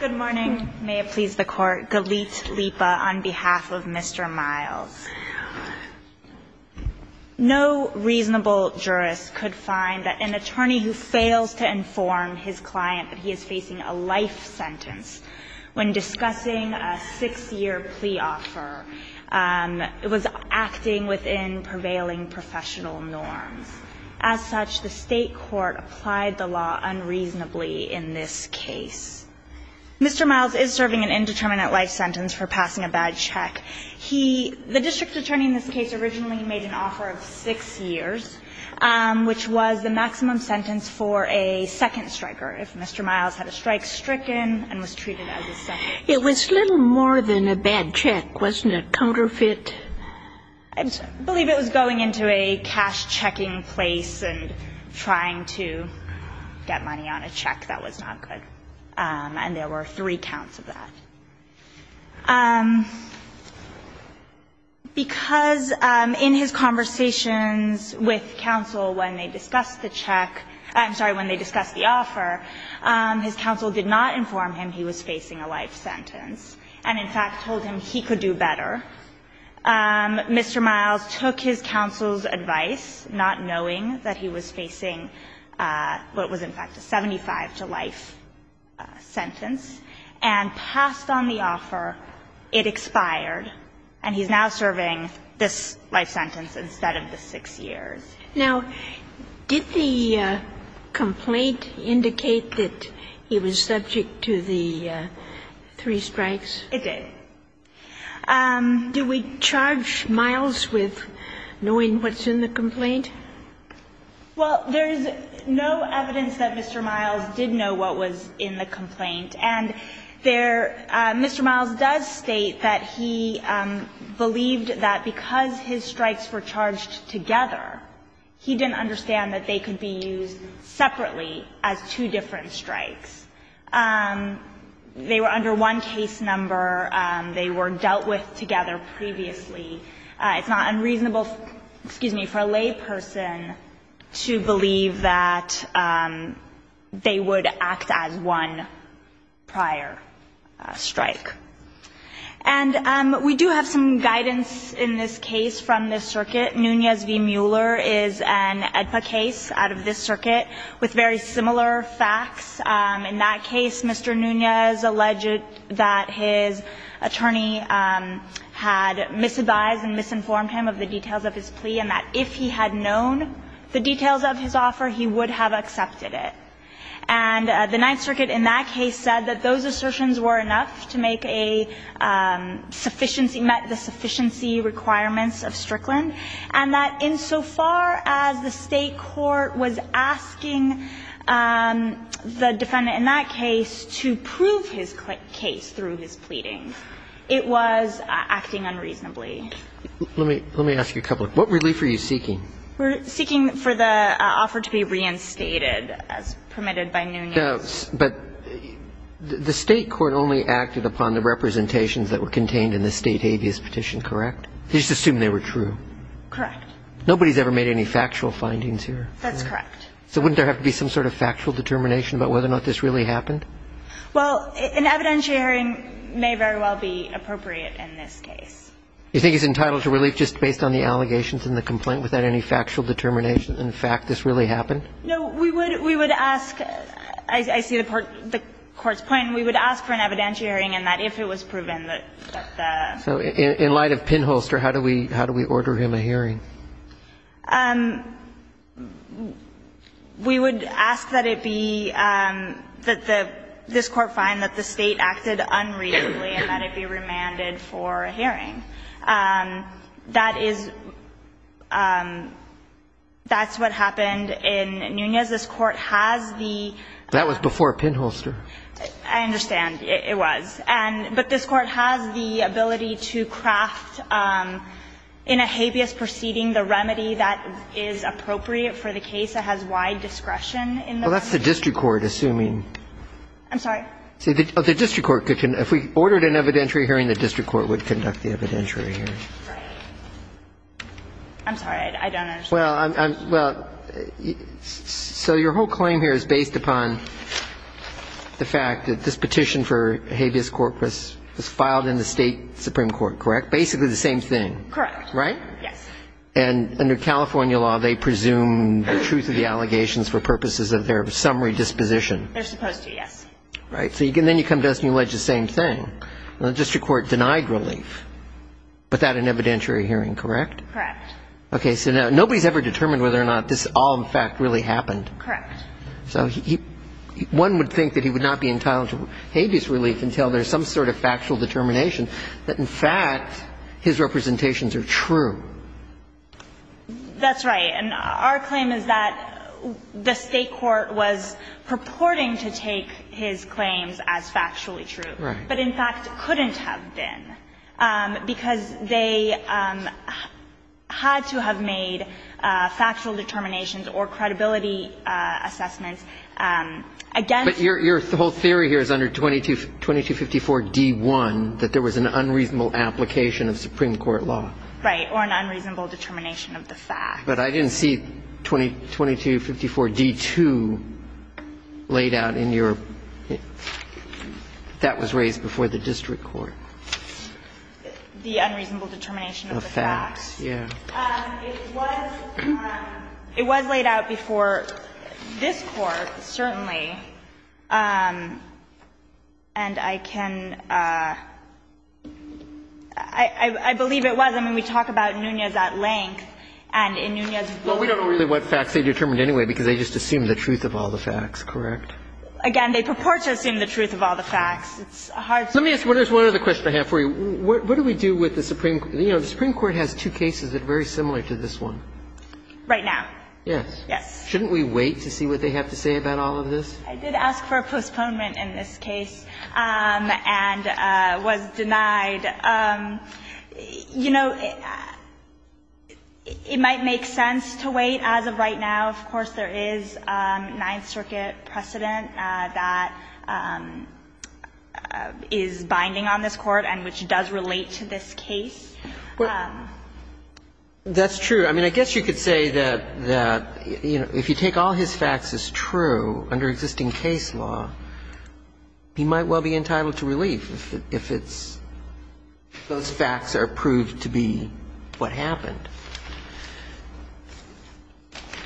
Good morning. May it please the Court. Galit Lipa on behalf of Mr. Miles. No reasonable jurist could find that an attorney who fails to inform his client that he is facing a life sentence when discussing a six-year plea offer was acting within prevailing professional norms. As such, the State court applied the law unreasonably in this case. Mr. Miles is serving an indeterminate life sentence for passing a bad check. He – the district attorney in this case originally made an offer of six years, which was the maximum sentence for a second striker if Mr. Miles had a strike stricken and was treated as a second. It was little more than a bad check, wasn't it? Counterfeit? And I believe it was going into a cash-checking place and trying to get money on a check that was not good. And there were three counts of that. Because in his conversations with counsel when they discussed the check – I'm sorry, when they discussed the offer, his counsel did not inform him he was facing a life sentence, and in fact told him he could do better. Mr. Miles took his counsel's advice, not knowing that he was facing what was in fact a 75-to-life sentence, and passed on the offer. It expired, and he's now serving this life sentence instead of the six years. Now, did the complaint indicate that he was subject to the three strikes? It did. Do we charge Miles with knowing what's in the complaint? Well, there's no evidence that Mr. Miles did know what was in the complaint. And there – Mr. Miles does state that he believed that because his strikes were charged together, he didn't understand that they could be used separately as two different strikes. They were under one case number. They were dealt with together previously. It's not unreasonable – excuse me – for a lay person to believe that they would act as one prior strike. And we do have some guidance in this case from the circuit. Nunez v. Mueller is an AEDPA case out of this circuit with very similar facts. In that case, Mr. Nunez alleged that his attorney had misadvised and misinformed him of the details of his plea and that if he had known the details of his offer, he would have accepted it. And the Ninth Circuit in that case said that those assertions were enough to make a sufficiency – met the sufficiency requirements of Strickland, and that insofar as the State court was asking the defendant in that case to prove his case through his pleading, it was acting unreasonably. Let me – let me ask you a couple of – what relief are you seeking? We're seeking for the offer to be reinstated as permitted by Nunez. But the State court only acted upon the representations that were contained in the State habeas petition, correct? They just assumed they were true. Correct. Nobody's ever made any factual findings here? That's correct. So wouldn't there have to be some sort of factual determination about whether or not this really happened? Well, an evidentiary hearing may very well be appropriate in this case. You think he's entitled to relief just based on the allegations in the complaint without any factual determination, in fact, this really happened? No. We would – we would ask – I see the Court's point. We would ask for an evidentiary hearing and that if it was proven that the – So in light of pinholster, how do we – how do we order him a hearing? We would ask that it be – that the – this Court find that the State acted unreasonably and that it be remanded for a hearing. That is – that's what happened in Nunez. This Court has the – That was before pinholster. I understand. It was. But this Court has the ability to craft in a habeas proceeding the remedy that is appropriate for the case that has wide discretion in the case. Well, that's the district court assuming. I'm sorry? The district court could – if we ordered an evidentiary hearing, the district court would conduct the evidentiary hearing. I'm sorry. I don't understand. Well, I'm – well, so your whole claim here is based upon the fact that this petition for habeas corpus was filed in the State Supreme Court, correct? Basically the same thing. Correct. Right? Yes. And under California law, they presume the truth of the allegations for purposes of their summary disposition. They're supposed to, yes. Right. So then you come to us and you allege the same thing. The district court denied relief without an evidentiary hearing, correct? Correct. Okay. So nobody's ever determined whether or not this all, in fact, really happened. Correct. So one would think that he would not be entitled to habeas relief until there's some sort of factual determination that, in fact, his representations are true. That's right. And our claim is that the State court was purporting to take his claims as factually true. Right. But, in fact, couldn't have been, because they had to have made factual determinations or credibility assessments against. But your whole theory here is under 2254d-1 that there was an unreasonable application of Supreme Court law. Right. Or an unreasonable determination of the fact. But I didn't see 2254d-2 laid out in your ---- that was raised before the district court. The unreasonable determination of the facts. Yeah. It was laid out before this Court, certainly, and I can ---- I believe it was. I mean, we talk about Nunez at length and in Nunez's voice. Well, we don't know really what facts they determined anyway, because they just assumed the truth of all the facts, correct? Again, they purport to assume the truth of all the facts. It's a hard ---- Let me ask you one other question I have for you. What do we do with the Supreme ---- you know, the Supreme Court has two cases that are very similar to this one. Right now. Yes. Yes. Shouldn't we wait to see what they have to say about all of this? I did ask for a postponement in this case and was denied. You know, it might make sense to wait. As of right now, of course, there is a Ninth Circuit precedent that is binding on this Court and which does relate to this case. That's true. I mean, I guess you could say that, you know, if you take all his facts as true under existing case law, he might well be entitled to relief if it's ---- if those facts are proved to be what happened.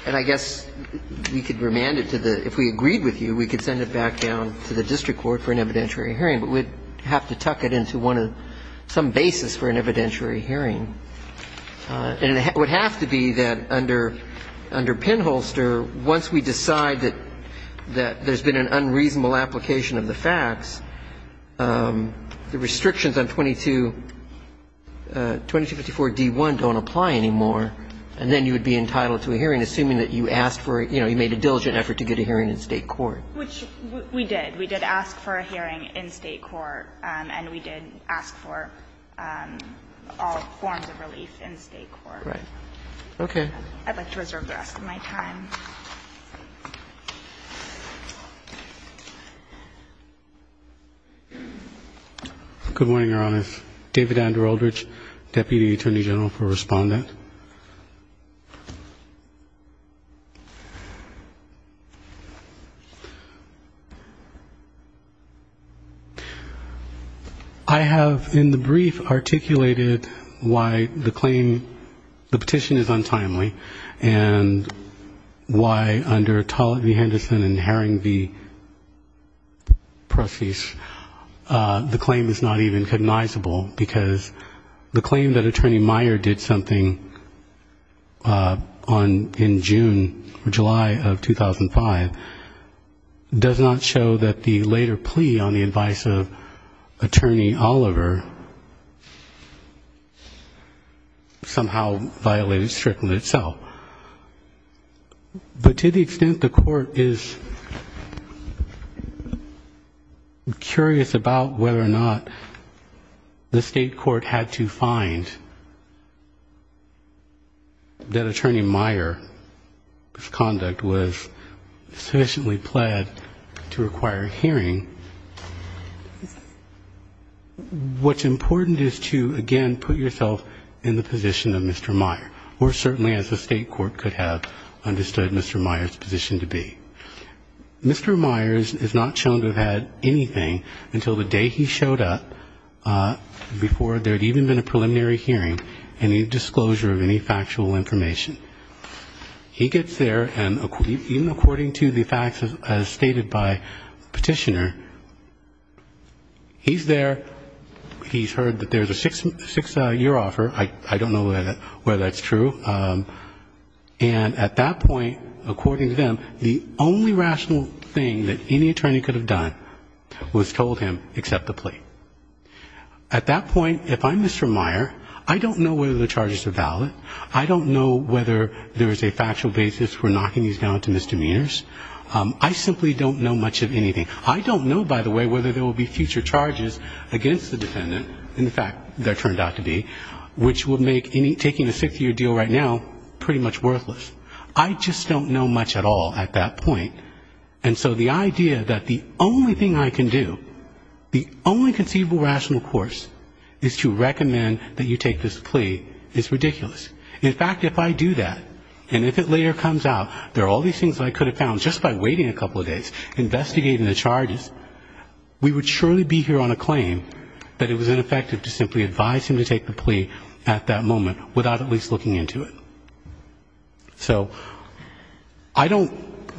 And I guess we could remand it to the ---- if we agreed with you, we could send it back down to the district court for an evidentiary hearing, but we'd have to tuck it into one of ---- some basis for an evidentiary hearing. And it would have to be that under Pinholster, once we decide that there's been an unreasonable application of the facts, the restrictions on 2254-D1 don't apply anymore, and then you would be entitled to a hearing, assuming that you asked for ---- you know, you made a diligent effort to get a hearing in State court. Which we did. We did ask for a hearing in State court, and we did ask for all forms of relief in State court. Right. Okay. I'd like to reserve the rest of my time. Good morning, Your Honor. David Andrew Eldridge, Deputy Attorney General for Respondent. I have in the brief articulated why the claim ---- the petition is untimely, and why under Tollett v. Henderson and Herring v. Prosse, the claim is not even cognizable, because the claim that Attorney Meyer did something on ---- in June or July of 2005, was not ---- does not show that the later plea on the advice of Attorney Oliver somehow violated strictly itself. But to the extent the court is curious about whether or not the State court had to find out that Attorney Meyer's conduct was sufficiently pled to require a hearing, what's important is to, again, put yourself in the position of Mr. Meyer, or certainly as the State court could have understood Mr. Meyer's position to be. Mr. Meyer is not shown to have had anything until the day he showed up, before there was a hearing, any disclosure of any factual information. He gets there, and even according to the facts as stated by the petitioner, he's there, he's heard that there's a six-year offer, I don't know whether that's true, and at that point, according to them, the only rational thing that any attorney could have done was told him, accept the plea. At that point, if I'm Mr. Meyer, I don't know whether the charges are valid, I don't know whether there's a factual basis for knocking these down to misdemeanors, I simply don't know much of anything. I don't know, by the way, whether there will be future charges against the defendant, in fact, there turned out to be, which would make taking a six-year deal right now pretty much worthless. I just don't know much at all at that point, and so the idea that the only thing I can do, the only conceivable rational course is to recommend that you take this plea is ridiculous. In fact, if I do that, and if it later comes out, there are all these things that I could have found just by waiting a couple of days, investigating the charges, we would surely be here on a claim that it was ineffective to simply advise him to take the plea at that moment without at least looking into it. So I don't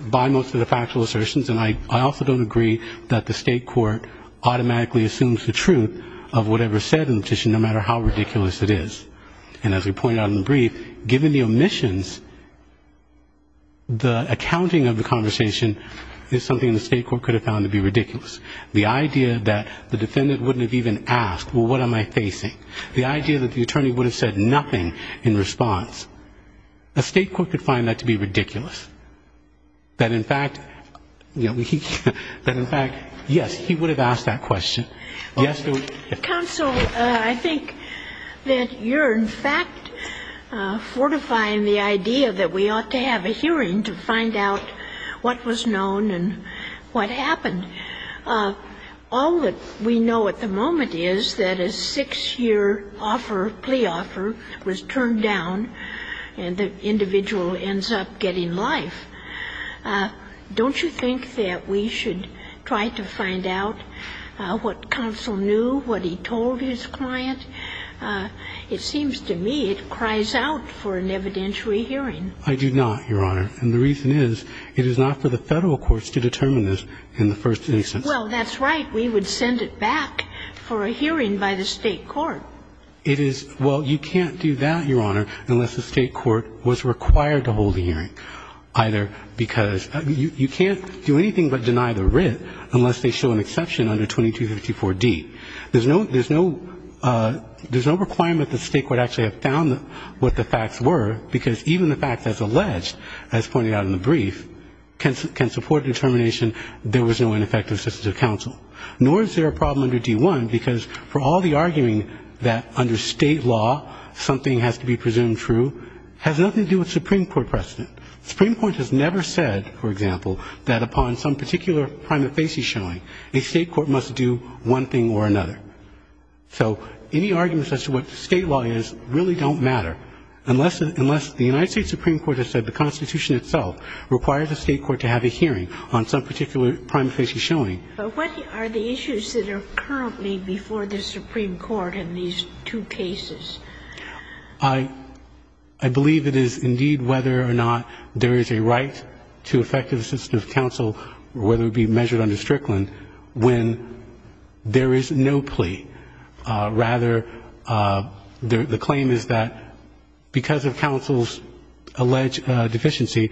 buy most of the factual assertions, and I also don't agree that the state court automatically assumes the truth of whatever's said in the petition, no matter how ridiculous it is. And as we pointed out in the brief, given the omissions, the accounting of the conversation is something the state court could have found to be ridiculous. The idea that the attorney would have said nothing in response, the state court could find that to be ridiculous. That in fact, yes, he would have asked that question. Yes, he would. Counsel, I think that you're in fact fortifying the idea that we ought to have a hearing to find out what was known and what happened. All that we know at the moment is that a six-year offer, plea offer, was turned down, and the individual ends up getting life. Don't you think that we should try to find out what counsel knew, what he told his client? It seems to me it cries out for an evidentiary hearing. I do not, Your Honor, and the reason is it is not for the Federal courts to determine this in the first instance. Well, that's right. We would send it back for a hearing by the State court. It is – well, you can't do that, Your Honor, unless the State court was required to hold a hearing, either because – you can't do anything but deny the writ unless they show an exception under 2254d. There's no requirement that the State court actually have found what the facts were, because even the facts as alleged, as pointed out in the brief, can support the determination there was no ineffective assistance of counsel. Nor is there a problem under D-1, because for all the arguing that under State law something has to be presumed true, has nothing to do with Supreme Court precedent. Supreme Court has never said, for example, that upon some particular prima facie showing, a State court must do one thing or another. So any arguments as to what State law is really don't matter, unless the United States Supreme Court has said the Constitution itself requires the State court to have a hearing on some particular prima facie showing. But what are the issues that are currently before the Supreme Court in these two cases? I believe it is indeed whether or not there is a right to effective assistance of counsel, whether it be measured under Strickland, when there is no plea. Rather, the claim is that because of counsel's alleged deficiency,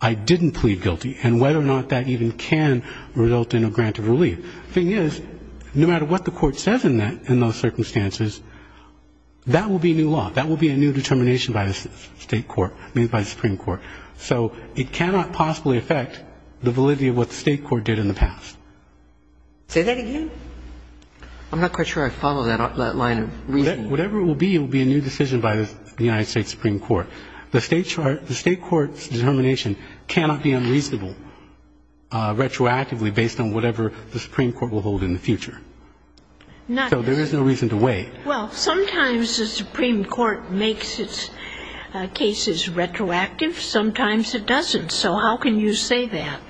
I didn't plead guilty. And whether or not that even can result in a grant of relief. The thing is, no matter what the court says in that, in those circumstances, that will be new law. That will be a new determination by the State court, I mean by the Supreme Court. So it cannot possibly affect the validity of what the State court did in the past. Say that again. I'm not quite sure I follow that line of reasoning. Whatever it will be, it will be a new decision by the United States Supreme Court. The State court's determination cannot be unreasonable retroactively based on whatever the Supreme Court will hold in the future. So there is no reason to wait. Well, sometimes the Supreme Court makes its cases retroactive. Sometimes it doesn't. So how can you say that?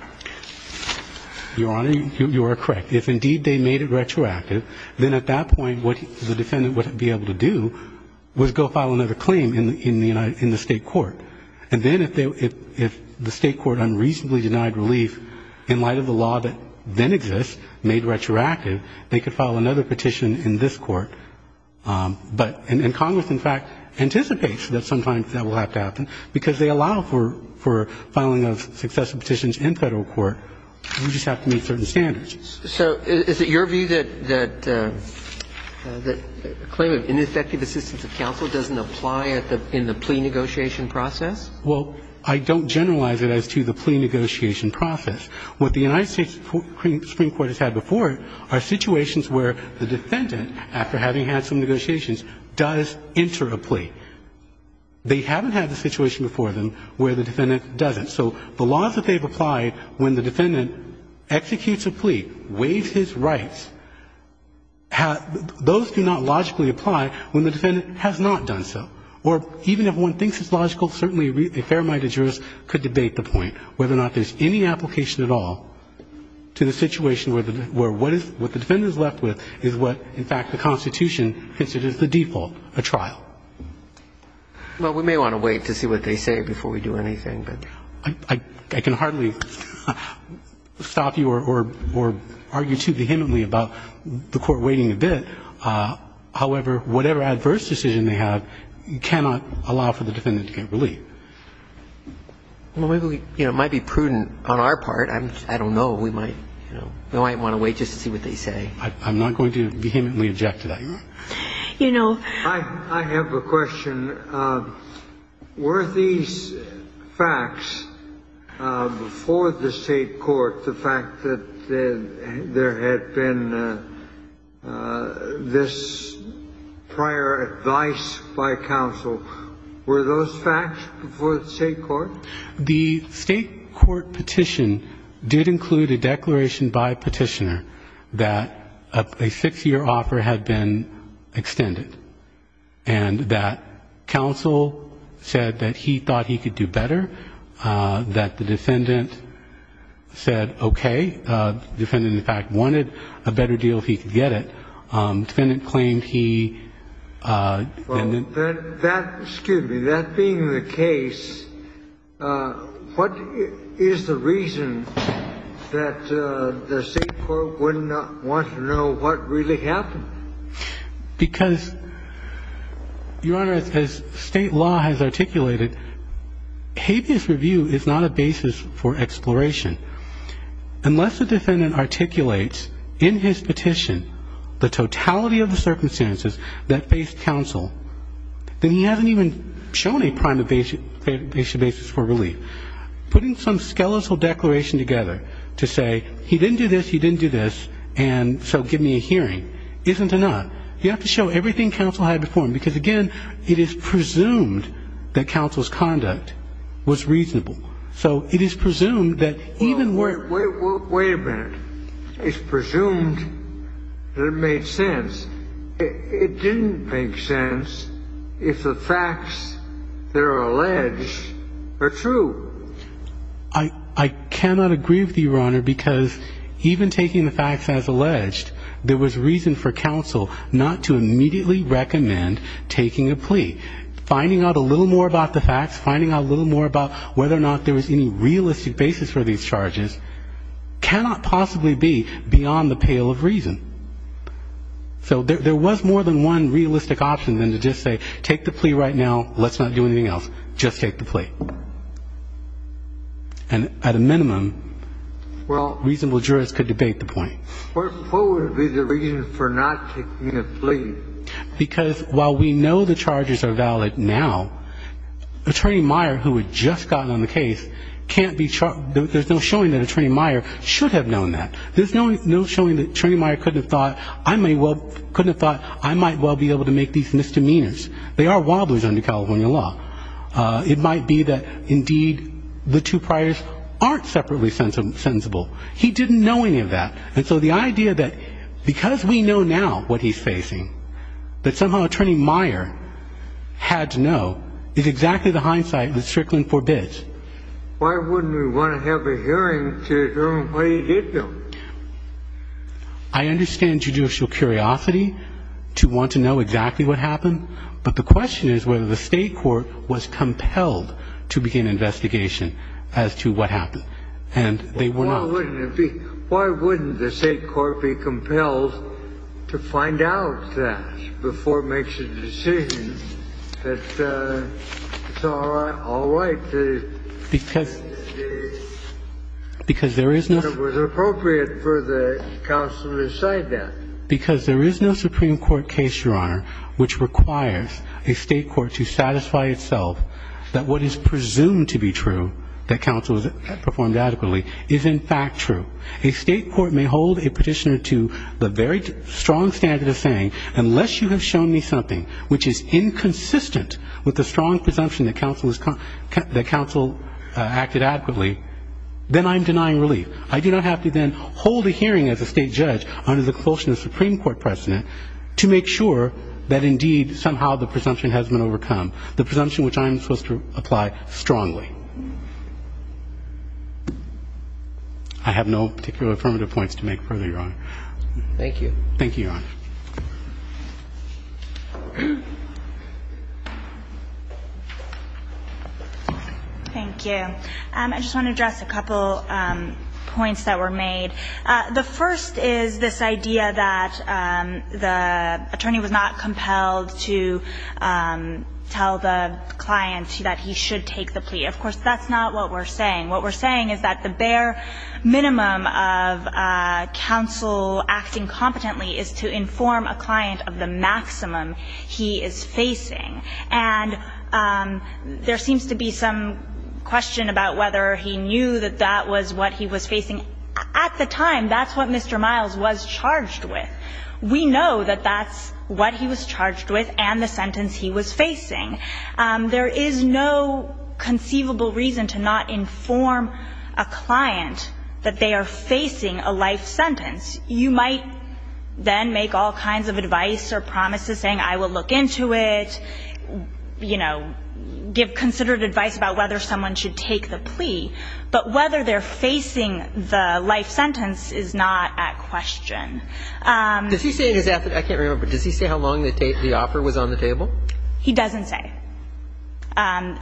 Your Honor, you are correct. If indeed they made it retroactive, then at that point what the defendant would be able to do was go file another claim in the State court. And then if the State court unreasonably denied relief in light of the law that then exists, made retroactive, they could file another petition in this court. And Congress, in fact, anticipates that sometimes that will have to happen, because they allow for filing of successive petitions in Federal court. You just have to meet certain standards. So is it your view that a claim of ineffective assistance of counsel doesn't apply in the plea negotiation process? Well, I don't generalize it as to the plea negotiation process. What the United States Supreme Court has had before are situations where the defendant, after having had some negotiations, does enter a plea. They haven't had the situation before them where the defendant doesn't. So the laws that they've applied when the defendant executes a plea, waives his rights, those do not logically apply when the defendant has not done so. Or even if one thinks it's logical, certainly a fair amount of jurists could debate the point whether or not there's any application at all to the situation where what the defendant is left with is what, in fact, the Constitution considers the default, a trial. Well, we may want to wait to see what they say before we do anything. I can hardly stop you or argue too vehemently about the Court waiting a bit. However, whatever adverse decision they have, you cannot allow for the defendant to get relief. Well, maybe, you know, it might be prudent on our part. I don't know. We might, you know, we might want to wait just to see what they say. I'm not going to vehemently object to that. You know. I have a question. And were these facts before the State court, the fact that there had been this prior advice by counsel, were those facts before the State court? The State court petition did include a declaration by a petitioner that a six-year offer had been extended and that counsel said that he thought he could do better, that the defendant said okay, the defendant, in fact, wanted a better deal if he could get it. The defendant claimed he didn't. Well, that, excuse me, that being the case, what is the reason that the State court would not want to know what really happened? Because, Your Honor, as State law has articulated, habeas review is not a basis for exploration. Unless the defendant articulates in his petition the totality of the circumstances that faced counsel, then he hasn't even shown a prime basis for relief. Putting some skeletal declaration together to say he didn't do this, he didn't do this, and so give me a hearing isn't enough. You have to show everything counsel had before him. Because, again, it is presumed that counsel's conduct was reasonable. So it is presumed that even where ---- Wait a minute. It's presumed that it made sense. It didn't make sense if the facts that are alleged are true. I cannot agree with you, Your Honor, because even taking the facts as alleged, there was reason for counsel not to immediately recommend taking a plea. Finding out a little more about the facts, finding out a little more about whether or not there was any realistic basis for these charges, cannot possibly be beyond the pale of reason. So there was more than one realistic option than to just say take the plea right now, let's not do anything else, just take the plea. And at a minimum, reasonable jurists could debate the point. Well, what would be the reason for not taking a plea? Because while we know the charges are valid now, Attorney Meyer, who had just gotten on the case, can't be ---- there's no showing that Attorney Meyer should have known that. There's no showing that Attorney Meyer couldn't have thought, I might well be able to make these misdemeanors. They are wobblers under California law. It might be that, indeed, the two priors aren't separately sensible. He didn't know any of that. And so the idea that because we know now what he's facing, that somehow Attorney Meyer had to know is exactly the hindsight that Strickland forbids. Why wouldn't we want to have a hearing to determine what he did know? I understand judicial curiosity to want to know exactly what happened. But the question is whether the state court was compelled to begin an investigation as to what happened. And they were not. Why wouldn't it be? Why wouldn't the state court be compelled to find out that before it makes a decision that it's all right, that it was appropriate for the counsel to decide that? Because there is no Supreme Court case, Your Honor, which requires a state court to satisfy itself that what is presumed to be true, that counsel performed adequately, is in fact true. A state court may hold a petitioner to the very strong standard of saying, unless you have shown me something which is inconsistent with the strong presumption that counsel acted adequately, then I'm denying relief. I do not have to then hold a hearing as a state judge under the compulsion of the Supreme Court precedent to make sure that indeed somehow the presumption has been overcome, the presumption which I'm supposed to apply strongly. I have no particular affirmative points to make further, Your Honor. Thank you. Thank you, Your Honor. Thank you. I just want to address a couple points that were made. The first is this idea that the attorney was not compelled to tell the client that he should take the plea. Of course, that's not what we're saying. What we're saying is that the bare minimum of counsel acting competently is to inform a client of the maximum he is facing. And there seems to be some question about whether he knew that that was what he was facing. At the time, that's what Mr. Miles was charged with. We know that that's what he was charged with and the sentence he was facing. There is no conceivable reason to not inform a client that they are facing a life sentence. You might then make all kinds of advice or promises saying I will look into it, you know, give considered advice about whether someone should take the plea. But whether they're facing the life sentence is not at question. Does he say in his affidavit, I can't remember, but does he say how long the offer was on the table? He doesn't say.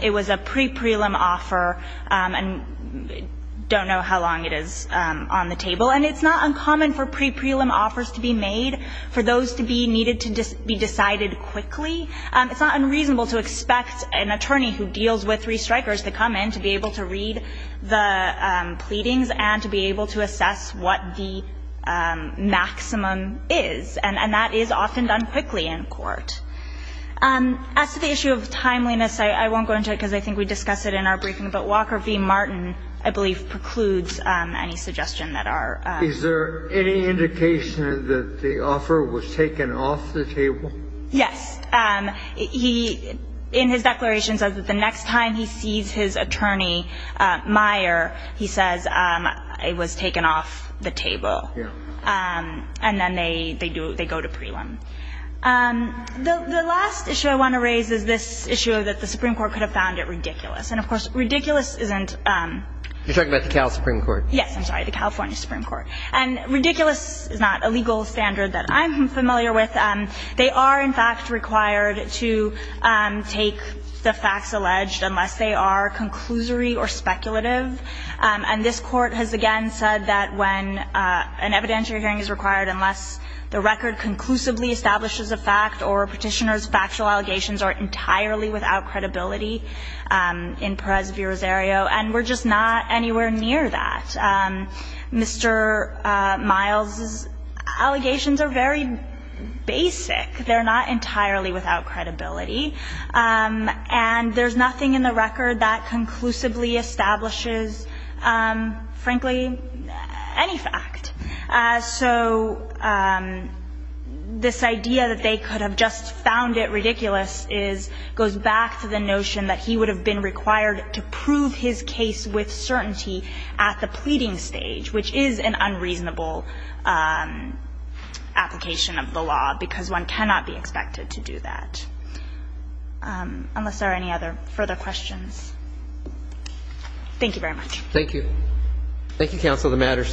It was a pre-prelim offer and don't know how long it is on the table. And it's not uncommon for pre-prelim offers to be made, for those to be needed to be decided quickly. It's not unreasonable to expect an attorney who deals with restrikers to come in to be able to read the pleadings and to be able to assess what the maximum is. And that is often done quickly in court. As to the issue of timeliness, I won't go into it because I think we discussed it in our briefing, but Walker v. Martin, I believe, precludes any suggestion that are. Is there any indication that the offer was taken off the table? Yes. He, in his declaration, says that the next time he sees his attorney, Meyer, he says it was taken off the table. And then they go to prelim. The last issue I want to raise is this issue that the Supreme Court could have found it ridiculous. And, of course, ridiculous isn't. You're talking about the Cal Supreme Court? Yes. I'm sorry, the California Supreme Court. And ridiculous is not a legal standard that I'm familiar with. They are, in fact, required to take the facts alleged unless they are conclusory or speculative. And this Court has, again, said that when an evidentiary hearing is required, unless the record conclusively establishes a fact or a petitioner's factual allegations are entirely without credibility in Perez v. Rosario. And we're just not anywhere near that. Mr. Miles' allegations are very basic. They're not entirely without credibility. And there's nothing in the record that conclusively establishes, frankly, any fact. So this idea that they could have just found it ridiculous goes back to the notion that he would have been required to prove his case with certainty at the pleading stage, which is an unreasonable application of the law because one cannot be expected to do that. Unless there are any other further questions. Thank you very much. Thank you. The matter is submitted.